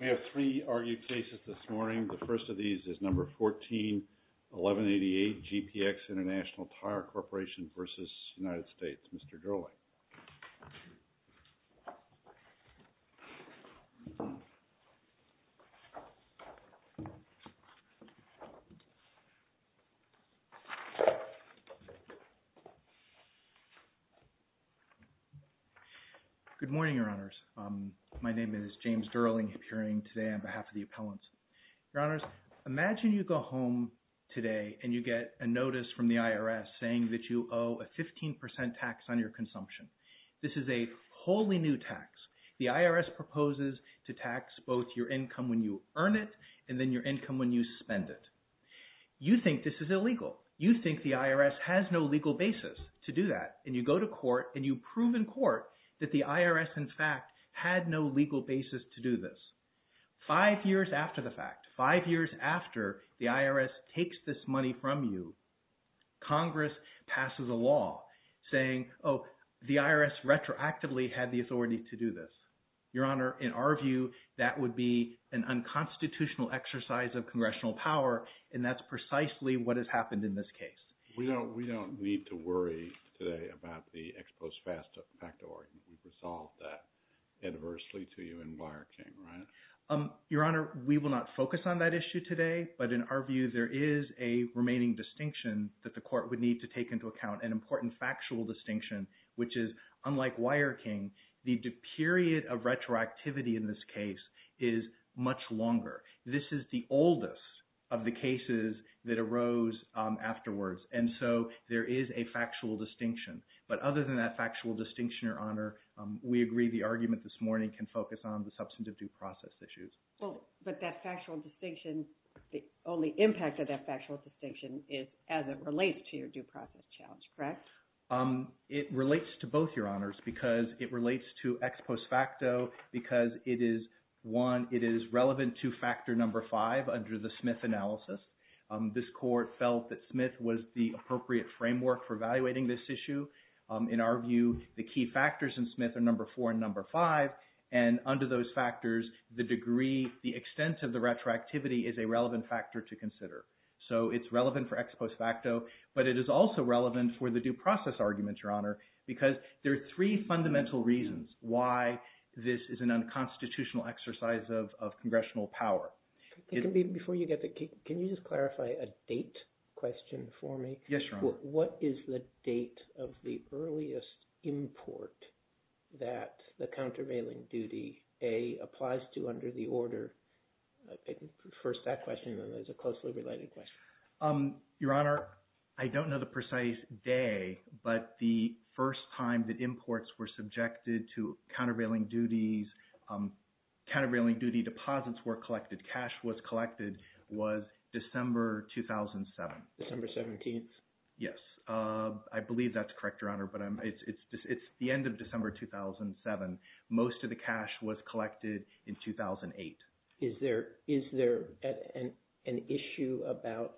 We have three argued cases this morning. The first of these is No. 14-1188, GPX International Tire Corporation v. United States. Mr. Dirling. Good morning, Your Honors. My name is James Dirling appearing today on behalf of the appellants. Your Honors, imagine you go home today and you get a notice from the IRS saying that you owe a 15% tax on your consumption. This is a wholly new tax. The IRS proposes to tax both your income when you earn it and then your income when you spend it. You think this is illegal. You think the IRS has no legal basis to do that. And you go to court and you prove in court that the IRS in fact had no legal basis to do this. Five years after the fact, five years after the IRS takes this money from you, Congress passes a law saying, oh, the IRS retroactively had the authority to do this. Your Honor, in our view, that would be an unconstitutional exercise of congressional power and that's precisely what has happened in this case. We don't need to worry today about the ex post facto argument. We've resolved that adversely to you and Byer King, right? Your Honor, we will not focus on that issue today, but in our view, there is a remaining distinction that the court would need to take into account, an important factual distinction, which is unlike Wyer King, the period of retroactivity in this case is much longer. This is the oldest of the cases that arose afterwards. And so there is a factual distinction. But other than that factual distinction, Your Honor, we agree the argument this morning can focus on the substantive due process issues. Well, but that factual distinction, the only impact of that factual distinction is as it relates to your due process challenge, correct? It relates to both, Your Honors, because it relates to ex post facto because it is, one, it is relevant to factor number five under the Smith analysis. This court felt that Smith was the appropriate framework for evaluating this issue. In our view, the key factors in number five, and under those factors, the degree, the extent of the retroactivity is a relevant factor to consider. So it's relevant for ex post facto, but it is also relevant for the due process argument, Your Honor, because there are three fundamental reasons why this is an unconstitutional exercise of congressional power. Before you get to, can you just clarify a date question for me? Yes, Your Honor. What is the date of the earliest import that the countervailing duty, A, applies to under the order, first that question and then there's a closely related question. Your Honor, I don't know the precise day, but the first time that imports were subjected to countervailing duties, countervailing duty deposits were collected, cash was collected, was December 2007. December 17th? Yes. I believe that's correct, Your Honor, but it's the end of December 2007. Most of the cash was collected in 2008. Is there an issue about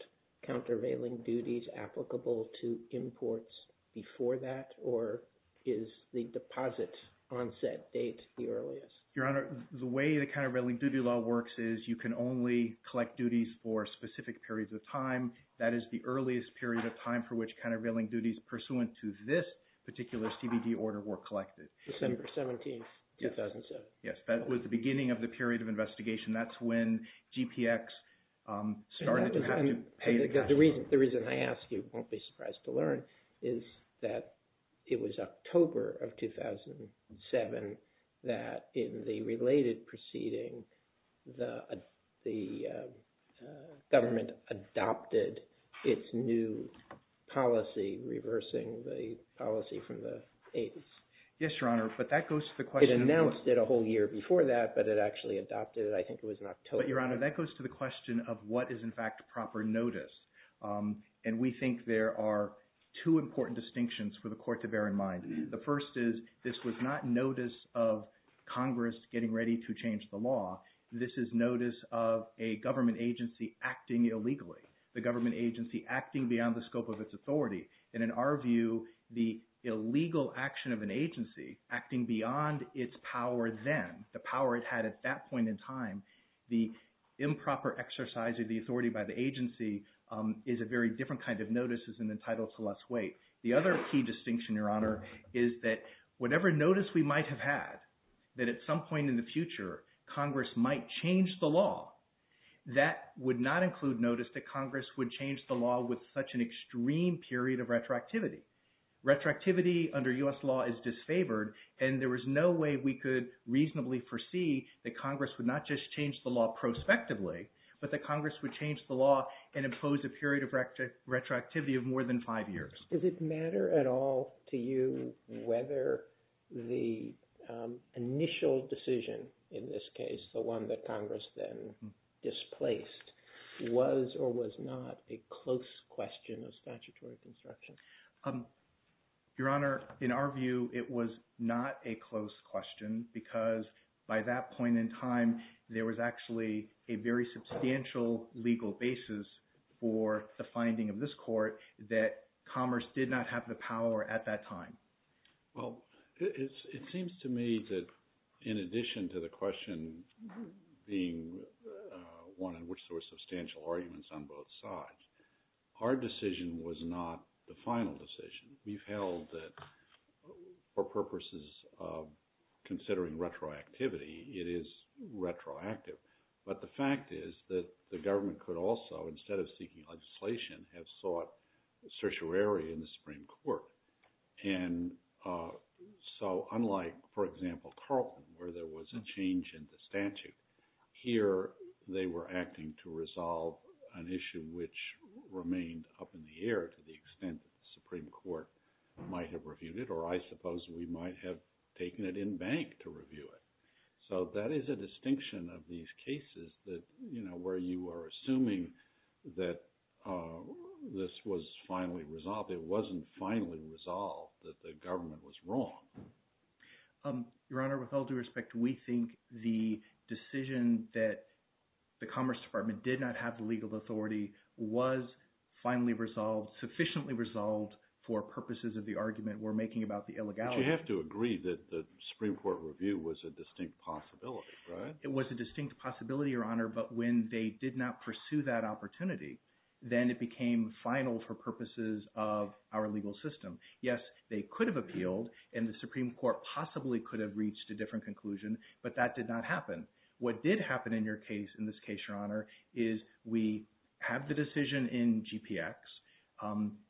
countervailing duties applicable to imports before that or is the deposit onset date the earliest? Your Honor, the way the countervailing duty law works is you can only collect duties for specific periods of time. That is the earliest period of time for which countervailing duties pursuant to this particular CBD order were collected. December 17th, 2007. Yes. Yes. That was the beginning of the period of investigation. That's when GPX started to have to pay attention. The reason I ask you, you won't be surprised to learn, is that it was October of 2007 that in the related proceeding, the government adopted its new policy reversing the policy from the 80s. Yes, Your Honor, but that goes to the question of what... It announced it a whole year before that, but it actually adopted it, I think it was in October. But, Your Honor, that goes to the question of what is in fact proper notice. And we think there are two important distinctions for the court to bear in mind. The first is this was not notice of Congress getting ready to change the law. This is notice of a government agency acting illegally. The government agency acting beyond the scope of its authority. And in our view, the illegal action of an agency acting beyond its power then, the power it had at that point in time, the improper exercise of the authority by the agency is a very different kind of notice is entitled to less weight. The other key distinction, Your Honor, is that whatever notice we might have had, that at some point in the future, Congress might change the law, that would not include notice that Congress would change the law with such an extreme period of retroactivity. Retroactivity under US law is disfavored, and there was no way we could reasonably foresee that Congress would not just change the law prospectively, but that Congress would change the law and impose a period of retroactivity of more than five years. Does it matter at all to you whether the initial decision, in this case, the one that Congress then displaced, was or was not a close question of statutory construction? Your Honor, in our view, it was not a close question because by that point in time, there was actually a very substantial legal basis for the finding of this court that Congress did not have the power at that time. Well, it seems to me that in addition to the question being one in which there were substantial arguments on both sides, our decision was not the final decision. We've held that for a long time. But the fact is that the government could also, instead of seeking legislation, have sought certiorari in the Supreme Court. And so unlike, for example, Carlton, where there was a change in the statute, here they were acting to resolve an issue which remained up in the air to the extent that the Supreme Court might have reviewed it, or I suppose we might have taken it in bank to review it. So that is a distinction of these cases where you are assuming that this was finally resolved. It wasn't finally resolved, that the government was wrong. Your Honor, with all due respect, we think the decision that the Commerce Department did not have the legal authority was finally resolved, sufficiently resolved for purposes of the argument we're making about the illegality. But you have to agree that the Supreme Court review was a distinct possibility, right? It was a distinct possibility, Your Honor, but when they did not pursue that opportunity, then it became final for purposes of our legal system. Yes, they could have appealed, and the Supreme Court possibly could have reached a different conclusion, but that did not happen. What did happen in your case, in this case, Your Honor, is we have the decision in GPX.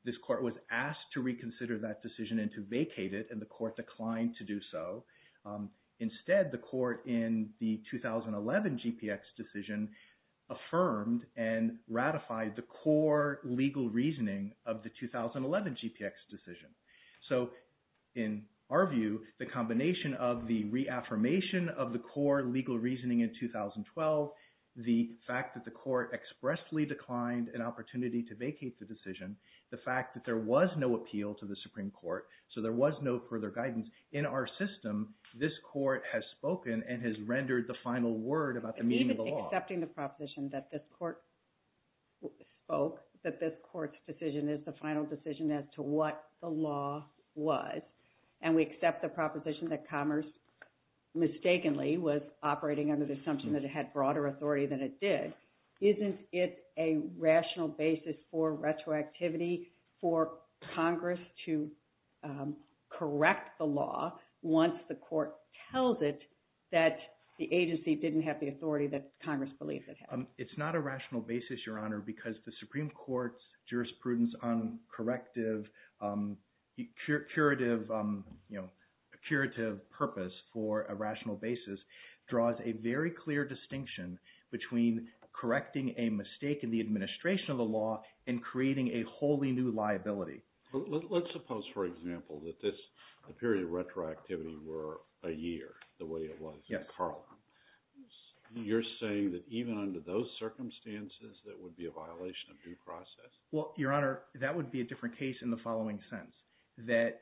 This court was asked to reconsider that decision and to vacate it, and the court declined to do so. Instead, the court in the 2011 GPX decision affirmed and ratified the core legal reasoning of the 2011 GPX decision. So in our view, the combination of the reaffirmation of the core legal reasoning in 2012, the fact that the court expressly declined an opportunity to vacate the decision, the fact that there was no appeal to the Supreme Court, so there was no further guidance, in our system, this court has spoken and has rendered the final word about the meaning of the law. It's even accepting the proposition that this court spoke, that this court's decision is the final decision as to what the law was, and we accept the proposition that Commerce mistakenly was operating under the assumption that it had broader authority than it did. Isn't it a rational basis for retroactivity for Congress to correct the law once the court tells it that the agency didn't have the authority that Congress believes it had? It's not a rational basis, Your Honor, because the Supreme Court's jurisprudence on corrective, curative purpose for a rational basis draws a very clear distinction between correcting a mistake in the administration of the law and creating a wholly new liability. Let's suppose, for example, that this period of retroactivity were a year, the way it was with Carlin. You're saying that even under those circumstances, that would be a violation of due process? Well, Your Honor, that would be a different case in the following sense, that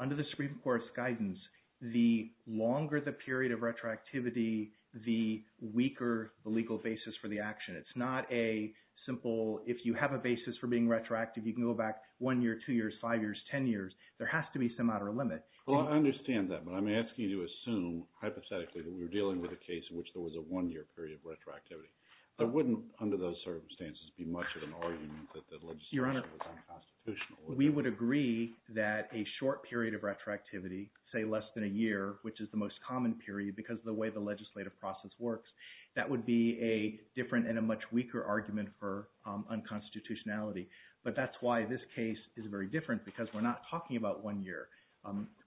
under the Supreme Court's guidance, the longer the period of retroactivity, the weaker the legal basis for the action. It's not a simple, if you have a basis for being retroactive, you can go back one year, two years, five years, ten years. There has to be some outer limit. Well, I understand that, but I'm asking you to assume, hypothetically, that we're dealing with a case in which there was a one-year period of retroactivity. There wouldn't, under those circumstances, be much of an argument that the legislation was unconstitutional. Your Honor, we would agree that a short period of retroactivity, say less than a year, which is the most common period because of the way the legislative process works, that would be a different and a much weaker argument for unconstitutionality. But that's why this case is very different because we're not talking about one year.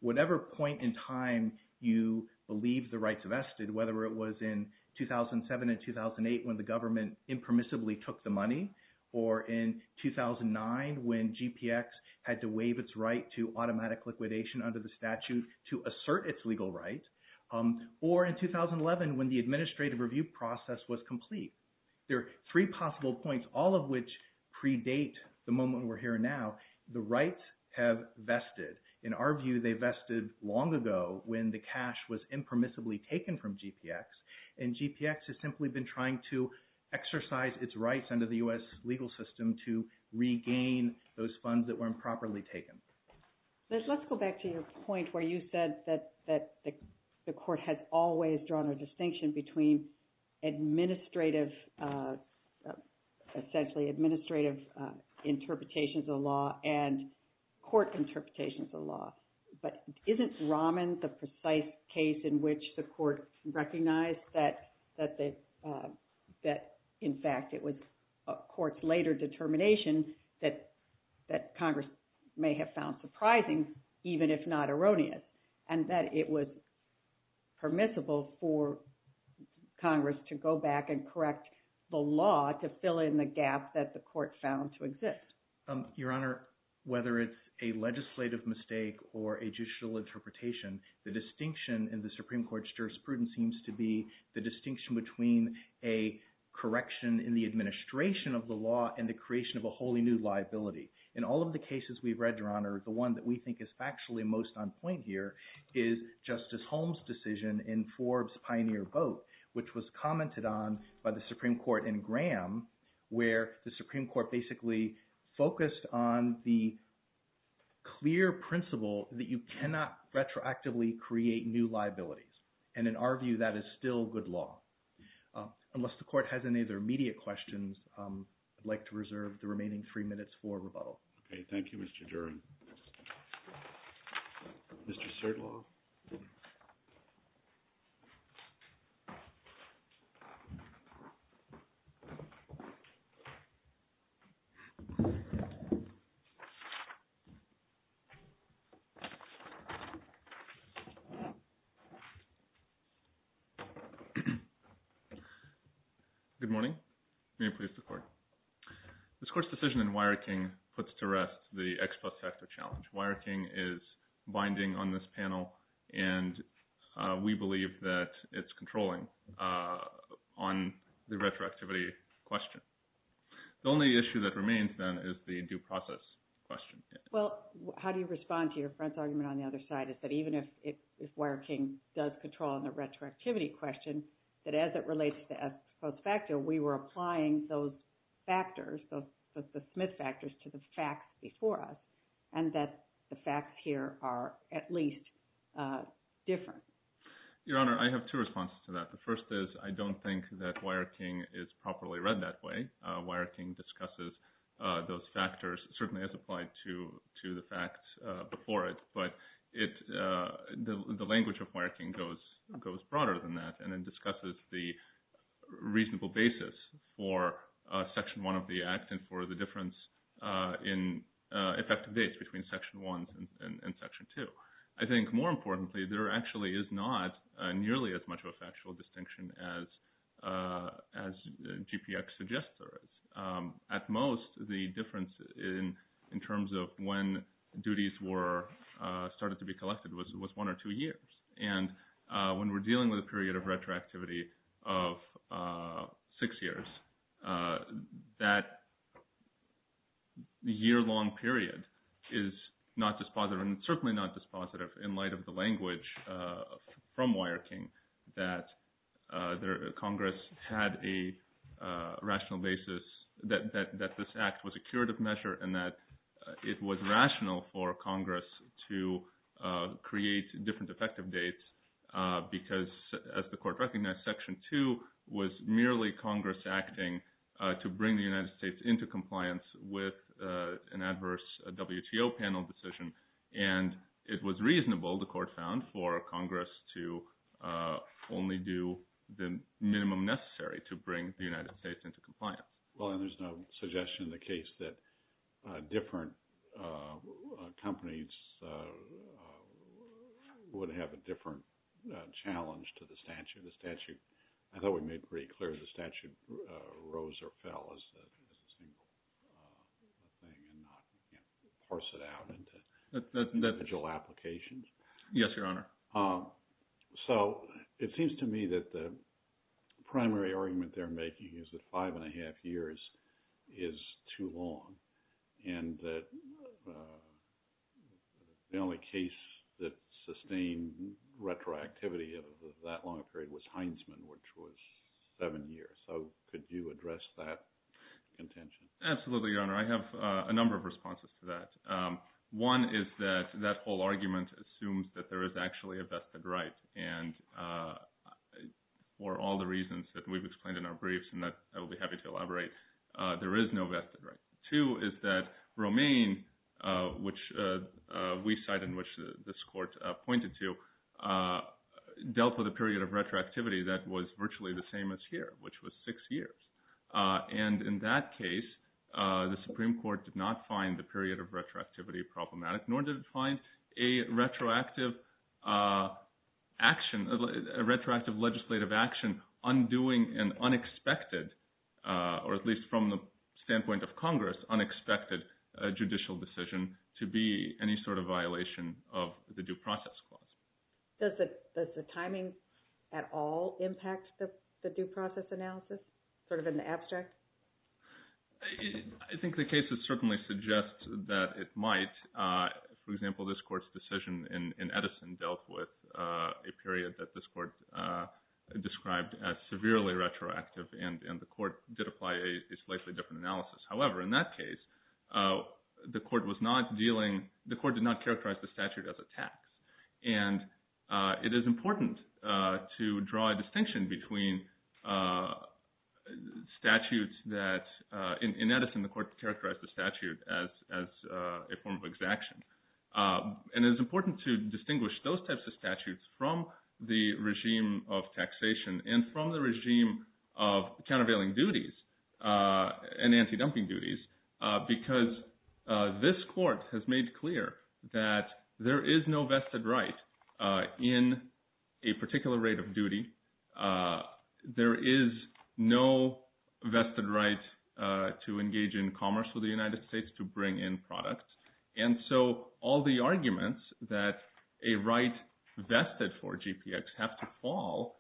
Whatever point in time you believe the rights vested, whether it was in 2007 and 2008 when the government impermissibly took the money, or in 2009 when GPX had to waive its right to automatic liquidation under the statute to assert its legal rights, or in 2011 when the administrative review process was complete, there are three possible points, all of which predate the moment we're here now. The rights have vested. In our view, they vested long ago when the cash was impermissibly taken from GPX, and GPX has simply been trying to exercise its rights under the U.S. legal system to regain those funds that were improperly taken. Let's go back to your point where you said that the Court has always drawn a distinction between administrative, essentially administrative interpretations of the law and court interpretations of the law. But isn't Rahman the precise case in which the Court recognized that, in fact, it was a court's later determination that Congress may have found surprising, even if not erroneous, and that it was permissible for Congress to go back and correct the law to fill in the gap that the Court found to exist? Your Honor, whether it's a legislative mistake or a judicial interpretation, the distinction in the Supreme Court's jurisprudence seems to be the distinction between a correction in the administration of the law and the creation of a wholly new liability. In all of the cases we've read, Your Honor, the one that we think is factually most on point here is Justice Holmes' decision in Forbes' Pioneer Vote, which was commented on by the Supreme Court in Graham, where the Supreme Court basically focused on the clear principle that you cannot retroactively create new liabilities. And in our view, that is still good law. Unless the Court has any other immediate questions, I'd like to reserve the remaining three minutes for rebuttal. Okay. Thank you, Mr. Duren. Mr. Serdlov? Good morning. May it please the Court. This Court's decision in Wiring King puts to rest the X plus factor challenge. Wiring King is binding on this panel, and we believe that it's controlling on the retroactivity question. The only issue that remains, then, is the due process question. Well, how do you respond to your friend's argument on the other side, is that even if Wiring King does control on the retroactivity question, that as it relates to X plus factor, we were applying those factors, the Smith factors, to the facts before us, and that the facts here are at least different. Your Honor, I have two responses to that. The first is, I don't think that Wiring King is properly read that way. Wiring King discusses those factors, certainly as applied to the facts before it, but the language of Wiring King goes broader than that, and it discusses the reasonable basis for Section 1 of the Act and for the difference in effective dates between Section 1 and Section 2. I think, more importantly, there actually is not nearly as much of a factual distinction as GPX suggests there is. At most, the difference in terms of when duties were started to be collected was one or two years, and when we're dealing with a period of retroactivity of six years, that year-long period is not as much of a difference. It is not dispositive, and certainly not dispositive in light of the language from Wiring King that Congress had a rational basis that this Act was a curative measure and that it was rational for Congress to create different effective dates because, as the Court recognized, Section 2 was merely Congress acting to bring the United States into compliance with an inter-panel decision, and it was reasonable, the Court found, for Congress to only do the minimum necessary to bring the United States into compliance. Well, and there's no suggestion in the case that different companies would have a different challenge to the statute. I thought we made pretty clear the statute rose or fell as a single thing and not, you know, parse it out into individual applications. Yes, Your Honor. So it seems to me that the primary argument they're making is that five-and-a-half years is too long, and that the only case that sustained retroactivity of that long a period was Heinsman, which was seven years. So could you address that contention? Absolutely, Your Honor. I have a number of responses to that. One is that that whole argument assumes that there is actually a vested right, and for all the reasons that we've explained in our briefs, and that I'll be happy to elaborate, there is no vested right. Two is that Romaine, which we cite and which this Court pointed to, dealt with a period of retroactivity that was virtually the same as here, which was six years. And in that case, the Supreme Court did not find the period of retroactivity problematic, nor did it find a retroactive legislative action undoing an unexpected, or at least from the standpoint of Congress, unexpected judicial decision to be any sort of violation of the Due Process Clause. Does the timing at all impact the due process analysis, sort of in the abstract? I think the cases certainly suggest that it might. For example, this Court's decision in Edison dealt with a period that this Court described as severely retroactive, and the Court did apply a slightly different analysis. However, in that case, the Court was not dealing with, the Court did not characterize the statute as a tax. And it is important to draw a distinction between statutes that, in Edison, the Court characterized the statute as a form of exaction. And it is important to distinguish those types of statutes from the regime of taxation and from the regime of countervailing duties and anti-dumping duties, because this Court has made clear that there is no vested right in a particular rate of duty. There is no vested right to engage in commerce with the United States, to bring in products. And so all the arguments that a right vested for GPX have to fall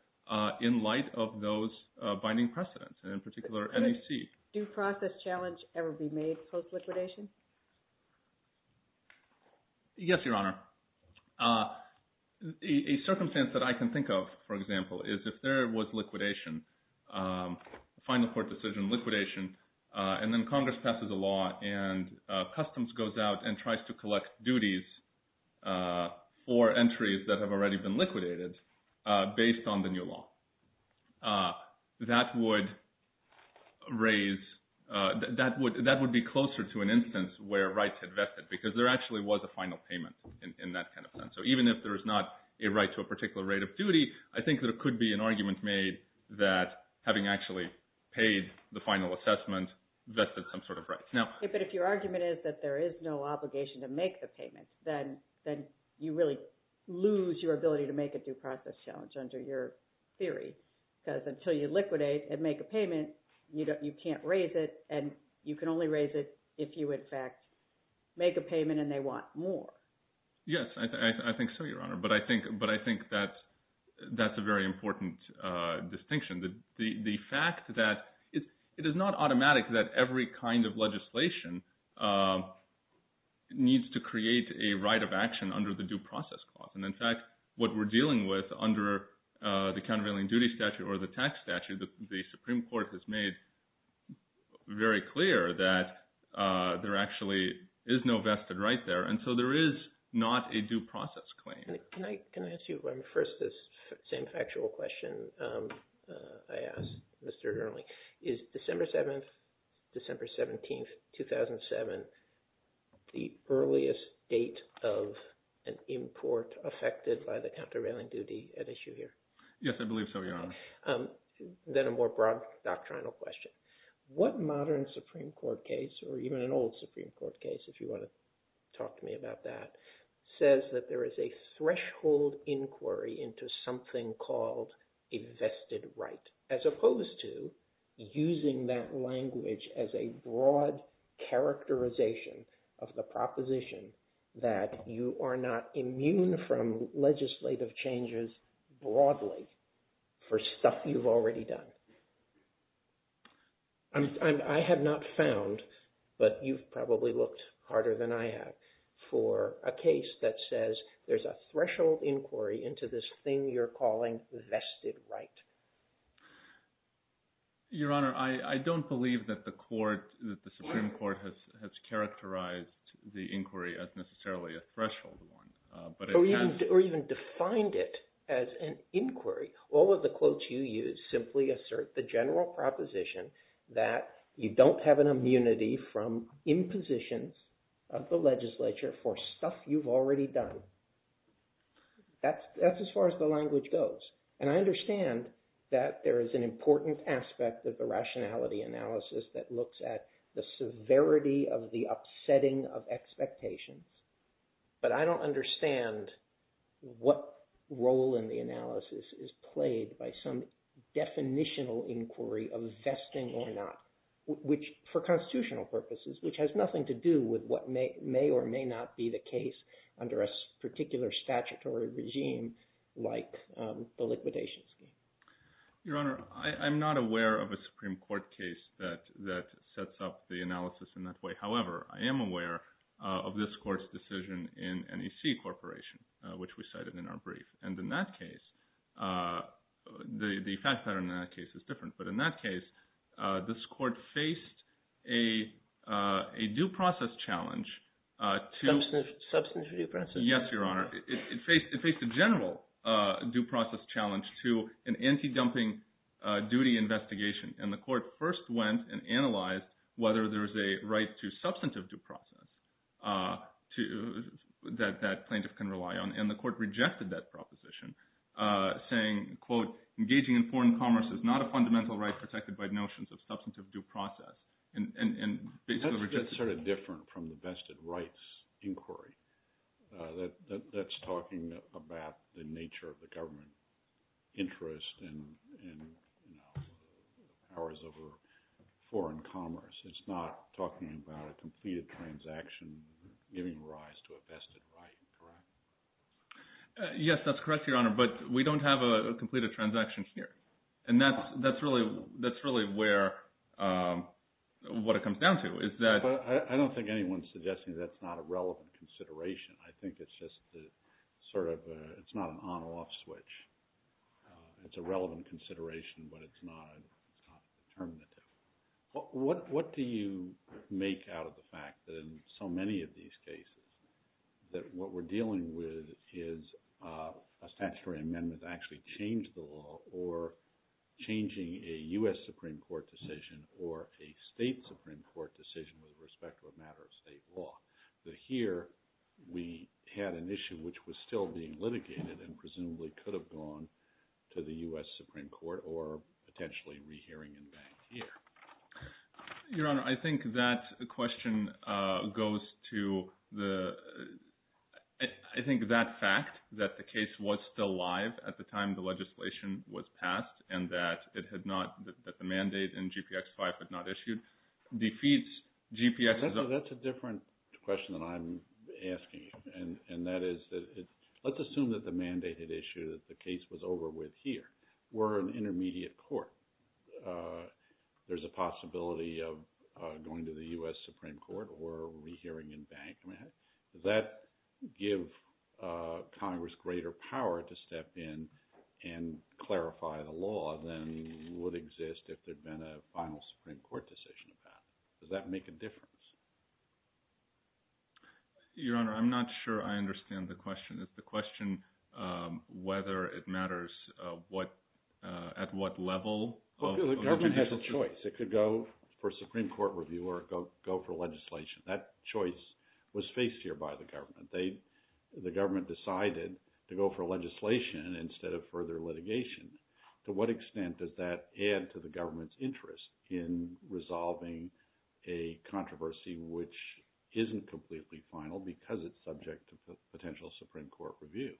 in light of those binding precedents, and in particular NEC. Do process challenges ever be made post-liquidation? Yes, Your Honor. A circumstance that I can think of, for example, is if there was liquidation, final court decision, liquidation, and then Congress passes a law and Customs goes out and tries to collect duties for entries that have already been liquidated based on the law. That would be closer to an instance where rights had vested, because there actually was a final payment in that kind of sense. So even if there is not a right to a particular rate of duty, I think there could be an argument made that, having actually paid the final assessment, vested some sort of right. But if your argument is that there is no obligation to make the payment, then you really lose your ability to make a due process challenge under your theory. Because until you liquidate and make a payment, you can't raise it, and you can only raise it if you, in fact, make a payment and they want more. Yes, I think so, Your Honor. But I think that's a very important distinction. The fact that it is not automatic that every kind of legislation needs to create a right of action under the statute, what we're dealing with under the countervailing duty statute or the tax statute, the Supreme Court has made very clear that there actually is no vested right there. And so there is not a due process claim. Can I ask you first this same factual question I asked Mr. Ehrling? Is December 7th, December 7th, the date of the Supreme Court hearing? Yes, I believe so, Your Honor. Then a more broad doctrinal question. What modern Supreme Court case, or even an old Supreme Court case, if you want to talk to me about that, says that there is a threshold inquiry into something called a vested right, as opposed to using that language as a broad characterization of the proposition that you are not immune from legislative changes broadly for stuff you've already done? I have not found, but you've probably looked harder than I have, for a case that says there's a threshold inquiry into this thing you're calling vested right. Your Honor, I don't believe that the Supreme Court has characterized the inquiry as necessarily a threshold one. Or even defined it as an inquiry. All of the quotes you use simply assert the general proposition that you don't have an immunity from impositions of the legislature for stuff you've already done. That's as far as the language goes. And I understand that there is an important aspect of the rationality analysis that looks at the severity of the upsetting of expectations, but I don't understand what role in the analysis is played by some definitional inquiry of vesting or not, which for constitutional purposes, which has nothing to do with what may or may not be the case under a particular statutory regime like the liquidation scheme. Your Honor, I'm not aware of a Supreme Court case that sets up the analysis in that way. However, I am aware of this Court's decision in NEC Corporation, which we cited in our brief. And in that case, the fact pattern in that case is different. But in that case, this Court faced a due process challenge to... Substantive due process? Yes, Your Honor. It faced a general due process challenge to an anti-dumping duty investigation. And the Court first went and analyzed whether there's a right to substantive due process that plaintiff can rely on. And the Court rejected that proposition, saying, quote, engaging in foreign commerce is not a fundamental right protected by notions of substantive due process. That's sort of different from the vested rights inquiry. That's talking about the nature of the government interest in powers over foreign commerce. It's not talking about a completed transaction giving rise to a vested right, correct? Yes, that's correct, Your Honor. But we don't have a completed transaction here. And that's really what it comes down to, is that... I don't think anyone's suggesting that's not a relevant consideration. I think it's just sort of, it's not an on-off switch. It's a relevant consideration, but it's not determinative. What do you make out of the fact that in so many of these cases, that what we're dealing with is a statutory amendment to actually change the law, or changing a U.S. Supreme Court decision, or a state Supreme Court decision with respect to a matter of state law? That here, we had an issue which was still being litigated and presumably could have gone to the U.S. Supreme Court, or potentially re-hearing and back here. Your Honor, I think that question goes to the... I think that fact, that the case was still live at the time the legislation was passed, and that it had not, that the mandate in GPX-5 had not issued, defeats GPX's... That's a different question than I'm asking you. And that is, let's assume that the mandate had issued, that the case was over with here. We're an intermediate court. There's a possibility of going to the U.S. Supreme Court, or re-hearing and back. Does that give Congress greater power to step in and clarify the law than would exist if there'd been a final Supreme Court decision about it? Does that make a difference? Your Honor, I'm not sure I understand the question. It's the question whether it matters what, at what level of... The government has a choice. It could go for Supreme Court review, or it could go for legislation. That choice was faced here by the government. The government decided to go for legislation instead of further litigation. To what extent does that add to the government's interest in resolving a controversy which isn't completely final, because it's subject to potential Supreme Court review?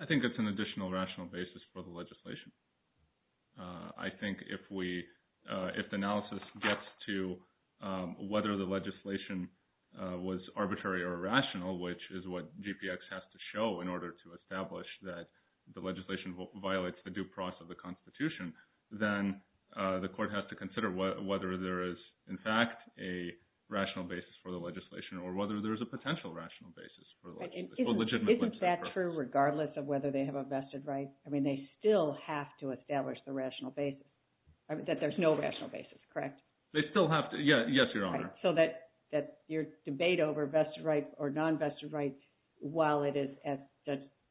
I think it's an additional rational basis for the legislation. I think if the analysis gets to whether the legislation was arbitrary or rational, which is what GPX has to show in order to establish that the legislation violates the due process of the Constitution, then the court has to consider whether there is, in fact, a rational basis for the legislation or whether there's a potential rational basis for the legislation. Isn't that true regardless of whether they have a vested right? I mean, they still have to establish the rational basis, that there's no rational basis, correct? They still have to. Yes, Your Honor. So that your debate over vested rights or non-vested rights, while it is, as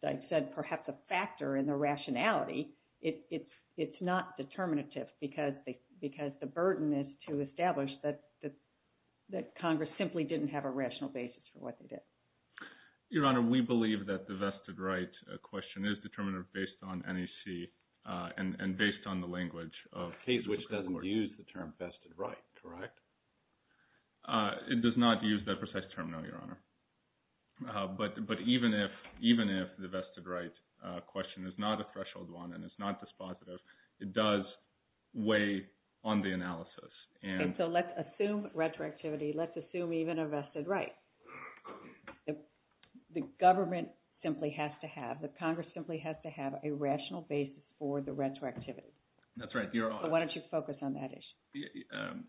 I said, perhaps a factor in the rationality, it's not determinative because the burden is to establish that Congress simply didn't have a rational basis for what they did. Your Honor, we believe that the vested right question is determinative based on NEC and based on the language of the Supreme Court. A case which doesn't use the term vested right, correct? It does not use that precise term, no, Your Honor. But even if the vested right question is not a threshold one and it's not dispositive, it does weigh on the analysis. And so let's assume retroactivity, let's assume even a vested right. The government simply has to have, the Congress simply has to have a rational basis for the retroactivity. That's right, Your Honor. Why don't you focus on that issue?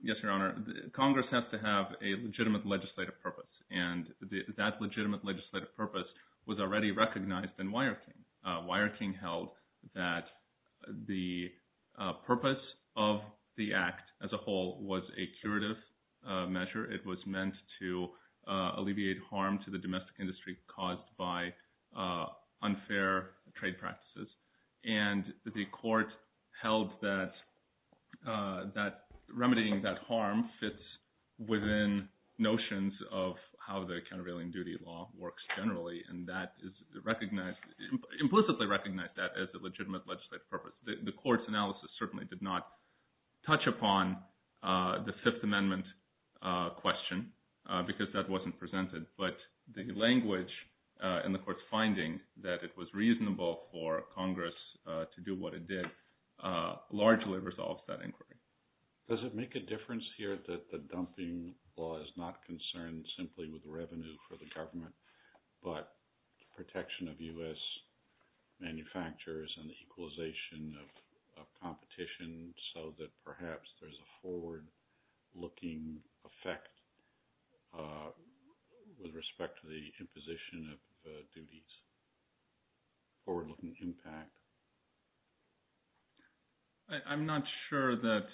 Yes, Your Honor. Congress has to have a legitimate legislative purpose and that legitimate legislative purpose was already recognized in Wire King. Wire King held that the purpose of the act as a whole was a curative measure. It was meant to alleviate harm to the domestic industry caused by unfair trade practices. And the court held that remedying that harm fits within notions of how the countervailing duty law works generally and implicitly recognized that as a legitimate legislative purpose. The court's analysis certainly did not touch upon the Fifth Amendment question because that wasn't presented. But the language and the court's finding that it was reasonable for Congress to do what it did largely resolves that inquiry. Does it make a difference here that the dumping law is not concerned simply with the revenue for the government but protection of U.S. manufacturers and the equalization of competition so that perhaps there's a forward-looking effect with respect to the imposition of duties? Forward-looking impact? I'm not sure that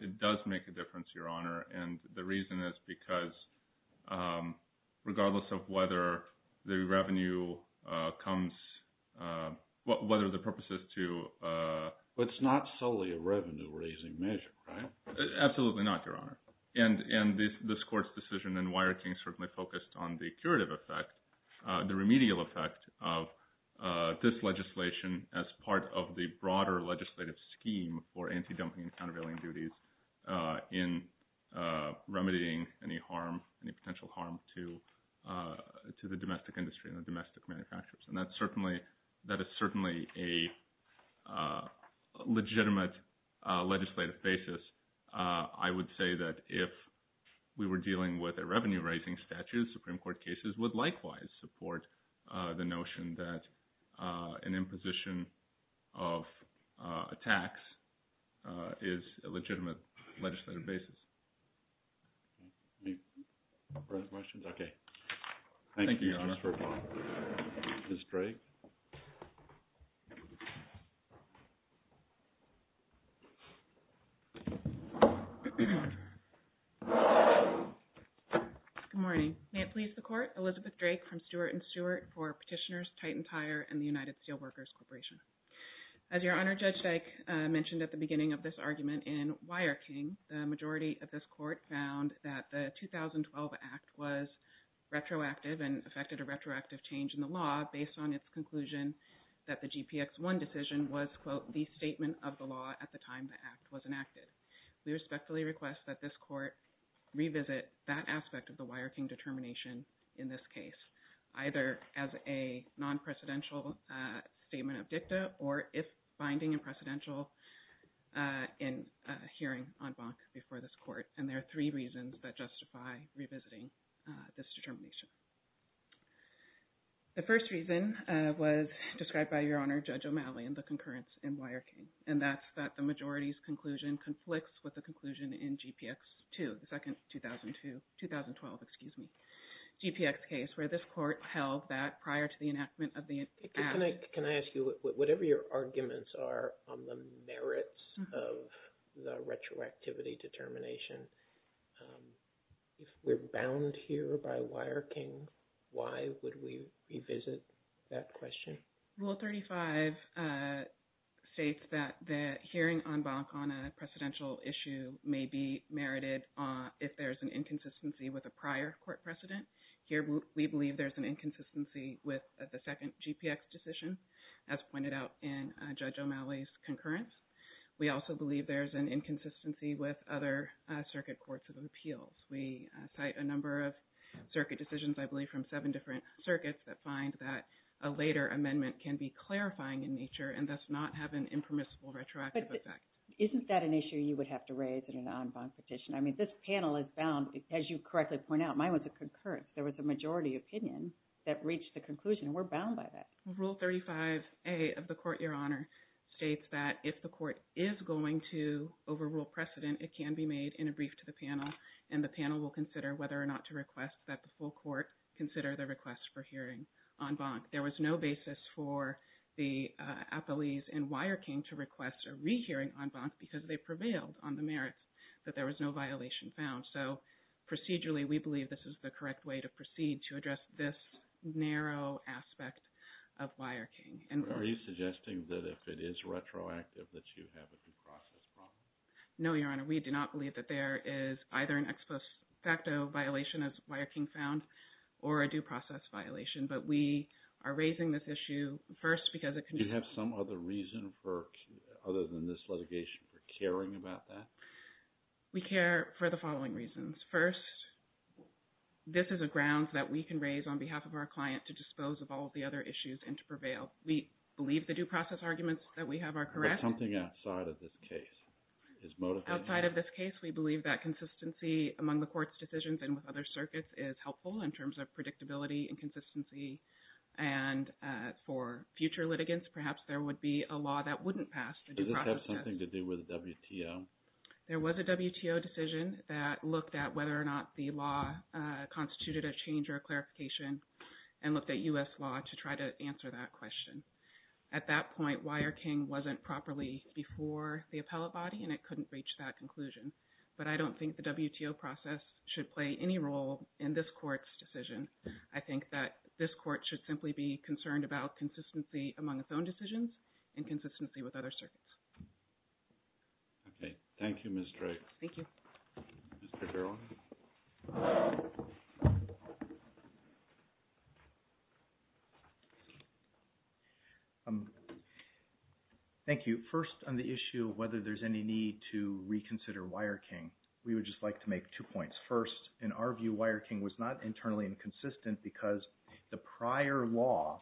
it does make a difference, Your Honor. And the reason is because regardless of whether the revenue comes – whether the purpose is to – But it's not solely a revenue-raising measure, right? Absolutely not, Your Honor. And this court's decision in Wiarting certainly focused on the curative effect, the remedial effect of this legislation as part of the broader legislative scheme for anti-dumping and countervailing duties in remedying any harm, any potential harm to the domestic industry and the domestic manufacturers. And that's certainly – that is certainly a legitimate legislative basis. I would say that if we were dealing with a revenue-raising statute, Supreme Court cases would likewise support the notion that an imposition of a tax is a legitimate legislative basis. Any further questions? Okay. Thank you, Your Honor. Ms. Drake? Good morning. May it please the Court, Elizabeth Drake from Stewart & Stewart for Petitioners, Titan Tire, and the United Steelworkers Corporation. As Your Honor, Judge Dyke mentioned at the beginning of this argument, in Wiarting, the majority of this Court found that the 2012 Act was retroactive and affected a retroactive change in the law based on its conclusion that the GPX-1 decision was, quote, the statement of the law at the time the Act was enacted. We respectfully request that this Court revisit that aspect of the Wiarting determination in this case, either as a non-precedential statement of dicta or if binding and precedential in a hearing on Bonk before this Court. And there are three reasons that justify revisiting this determination. The first reason was described by Your Honor, Judge O'Malley, in the concurrence in Wiarting, and that's that the majority's conclusion conflicts with the conclusion in GPX-2, the second 2012, excuse me, GPX case where this Court held that prior to the enactment of the Act… Mm-hmm. …the merits of the retroactivity determination. If we're bound here by Wiarting, why would we revisit that question? Rule 35 states that the hearing on Bonk on a precedential issue may be merited if there's an inconsistency with a prior Court precedent. Here, we believe there's an inconsistency with the second GPX decision, as pointed out in Judge O'Malley's concurrence. We also believe there's an inconsistency with other circuit courts of appeals. We cite a number of circuit decisions, I believe, from seven different circuits that find that a later amendment can be clarifying in nature and thus not have an impermissible retroactive effect. But isn't that an issue you would have to raise in an en banc petition? I mean, this panel is bound, as you correctly point out, mine was a concurrence. There was a majority opinion that reached the conclusion. We're bound by that. Rule 35A of the Court, Your Honor, states that if the Court is going to overrule precedent, it can be made in a brief to the panel, and the panel will consider whether or not to request that the full Court consider the request for hearing en banc. There was no basis for the appellees in Wiarting to request a rehearing en banc because they prevailed on the merits that there was no violation found. So, procedurally, we believe this is the correct way to proceed to address this narrow aspect of Wiarting. Are you suggesting that if it is retroactive that you have a due process problem? No, Your Honor. We do not believe that there is either an ex post facto violation, as Wiarting found, or a due process violation. But we are raising this issue first because it can... Do you have some other reason for, other than this litigation, for caring about that? We care for the following reasons. First, this is a ground that we can raise on behalf of our client to dispose of all of the other issues and to prevail. We believe the due process arguments that we have are correct. But something outside of this case is motivating... Outside of this case, we believe that consistency among the Court's decisions and with other circuits is helpful in terms of predictability and consistency, and for future litigants, perhaps there would be a law that wouldn't pass the due process test. Does this have anything to do with the WTO? There was a WTO decision that looked at whether or not the law constituted a change or a clarification and looked at U.S. law to try to answer that question. At that point, Wiarting wasn't properly before the appellate body, and it couldn't reach that conclusion. But I don't think the WTO process should play any role in this Court's decision. I think that this Court should simply be concerned about consistency among its own decisions and consistency with other circuits. Okay. Thank you, Ms. Drake. Thank you. Mr. Gerlach? Thank you. First, on the issue of whether there's any need to reconsider Wiarting, we would just like to make two points. First, in our view, Wiarting was not internally inconsistent because the prior law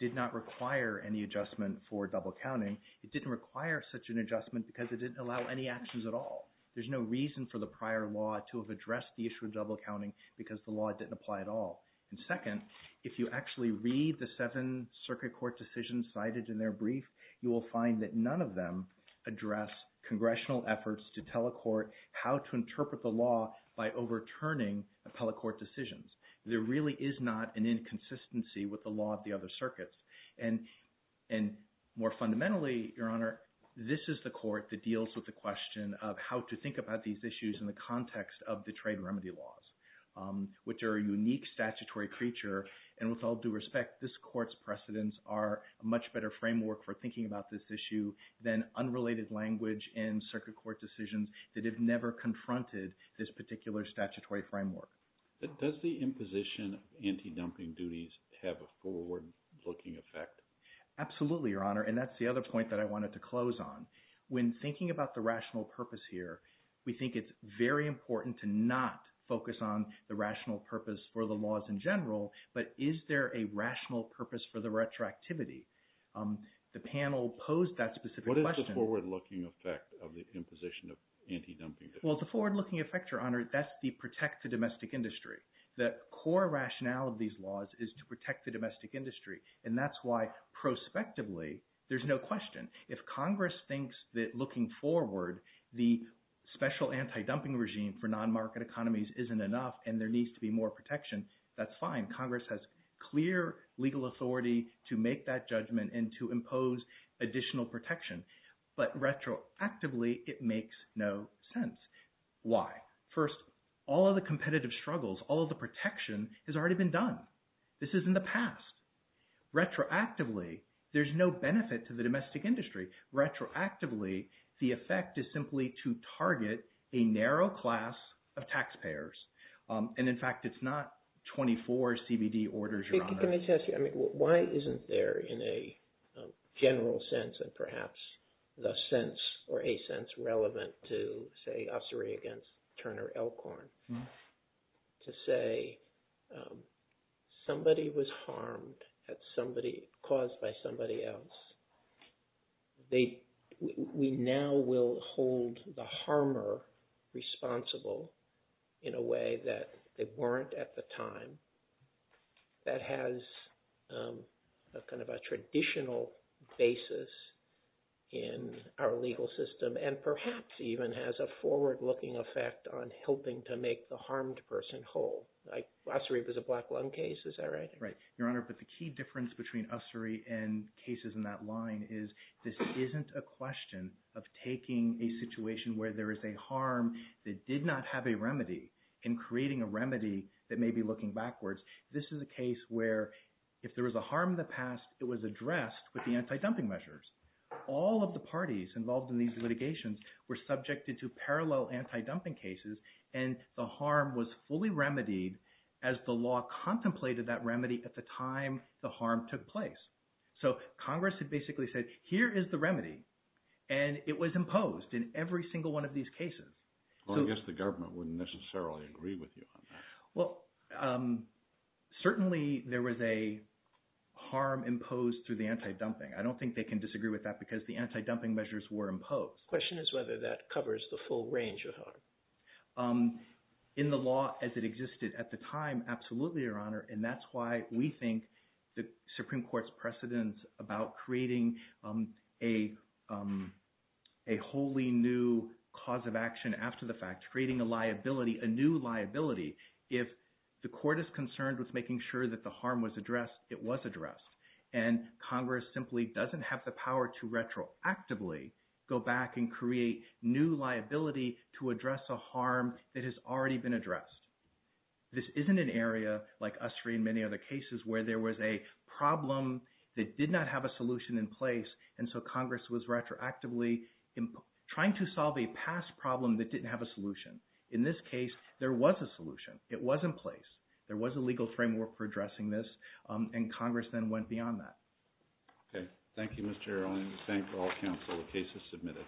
did not require any adjustment for double-counting. It didn't require such an adjustment because it didn't allow any actions at all. There's no reason for the prior law to have addressed the issue of double-counting because the law didn't apply at all. And second, if you actually read the seven circuit court decisions cited in their brief, you will find that none of them address congressional efforts to tell a court how to interpret the law by overturning appellate court decisions. There really is not an inconsistency with the law of the other circuits. And more fundamentally, Your Honor, this is the Court that deals with the question of how to think about these issues in the context of the trade remedy laws, which are a unique statutory creature, and with all due respect, this Court's precedents are a much better framework for thinking about this issue than unrelated language and circuit court decisions that have never confronted this particular statutory framework. Does the imposition of anti-dumping duties have a forward-looking effect? Absolutely, Your Honor, and that's the other point that I wanted to close on. When thinking about the rational purpose here, we think it's very important to not focus on the rational purpose for the laws in general, but is there a rational purpose for the retroactivity? The panel posed that specific question. What is the forward-looking effect of the imposition of anti-dumping duties? Well, the forward-looking effect, Your Honor, that's to protect the domestic industry. The core rationale of these laws is to protect the domestic industry, and that's why prospectively there's no question. If Congress thinks that looking forward, the special anti-dumping regime for non-market economies isn't enough and there needs to be more protection, that's fine. Congress has clear legal authority to make that judgment and to impose additional protection. But retroactively, it makes no sense. Why? First, all of the competitive struggles, all of the protection has already been done. This is in the past. Retroactively, there's no benefit to the domestic industry. Retroactively, the effect is simply to target a narrow class of taxpayers, and in fact, it's not 24 CBD orders, Your Honor. Can I just ask you, I mean, why isn't there, in a general sense and perhaps the sense or a sense relevant to, say, ossuary against Turner Elkhorn, to say somebody was harmed at somebody, caused by somebody else. We now will hold the harmer responsible in a way that they weren't at the time. That has a kind of a traditional basis in our legal system and perhaps even has a forward-looking effect on helping to make the harmed person whole. Ossuary was a black lung case, is that right? Right. Your Honor, but the key difference between ossuary and cases in that line is this isn't a question of taking a situation where there is a harm that did not have a remedy and creating a remedy that may be looking backwards. This is a case where if there was a harm in the past, it was addressed with the anti-dumping measures. All of the parties involved in these litigations were subjected to parallel anti-dumping cases and the harm was fully remedied as the law contemplated that remedy at the time the harm took place. So, Congress had basically said, here is the remedy and it was imposed in every single one of these cases. Well, I guess the government wouldn't necessarily agree with you on that. Well, certainly there was a harm imposed through the anti-dumping. I don't think they can disagree with that because the anti-dumping measures were imposed. The question is whether that covers the full range of harm. In the law as it existed at the time, absolutely, Your Honor, and that's why we think the Supreme Court's precedence about creating a wholly new cause of action after the fact, creating a liability, a new liability, if the court is concerned with making sure that the harm was addressed, it was addressed. And Congress simply doesn't have the power to retroactively go back and create new liability to address a harm that has already been addressed. This isn't an area like Ussery and many other cases where there was a problem that did not have a solution in place and so Congress was retroactively trying to solve a past problem that didn't have a solution. In this case, there was a solution. It was in place. There was a legal framework for addressing this and Congress then went beyond that. Okay. Thank you, Mr. Earle. I thank all counsel. The case is submitted.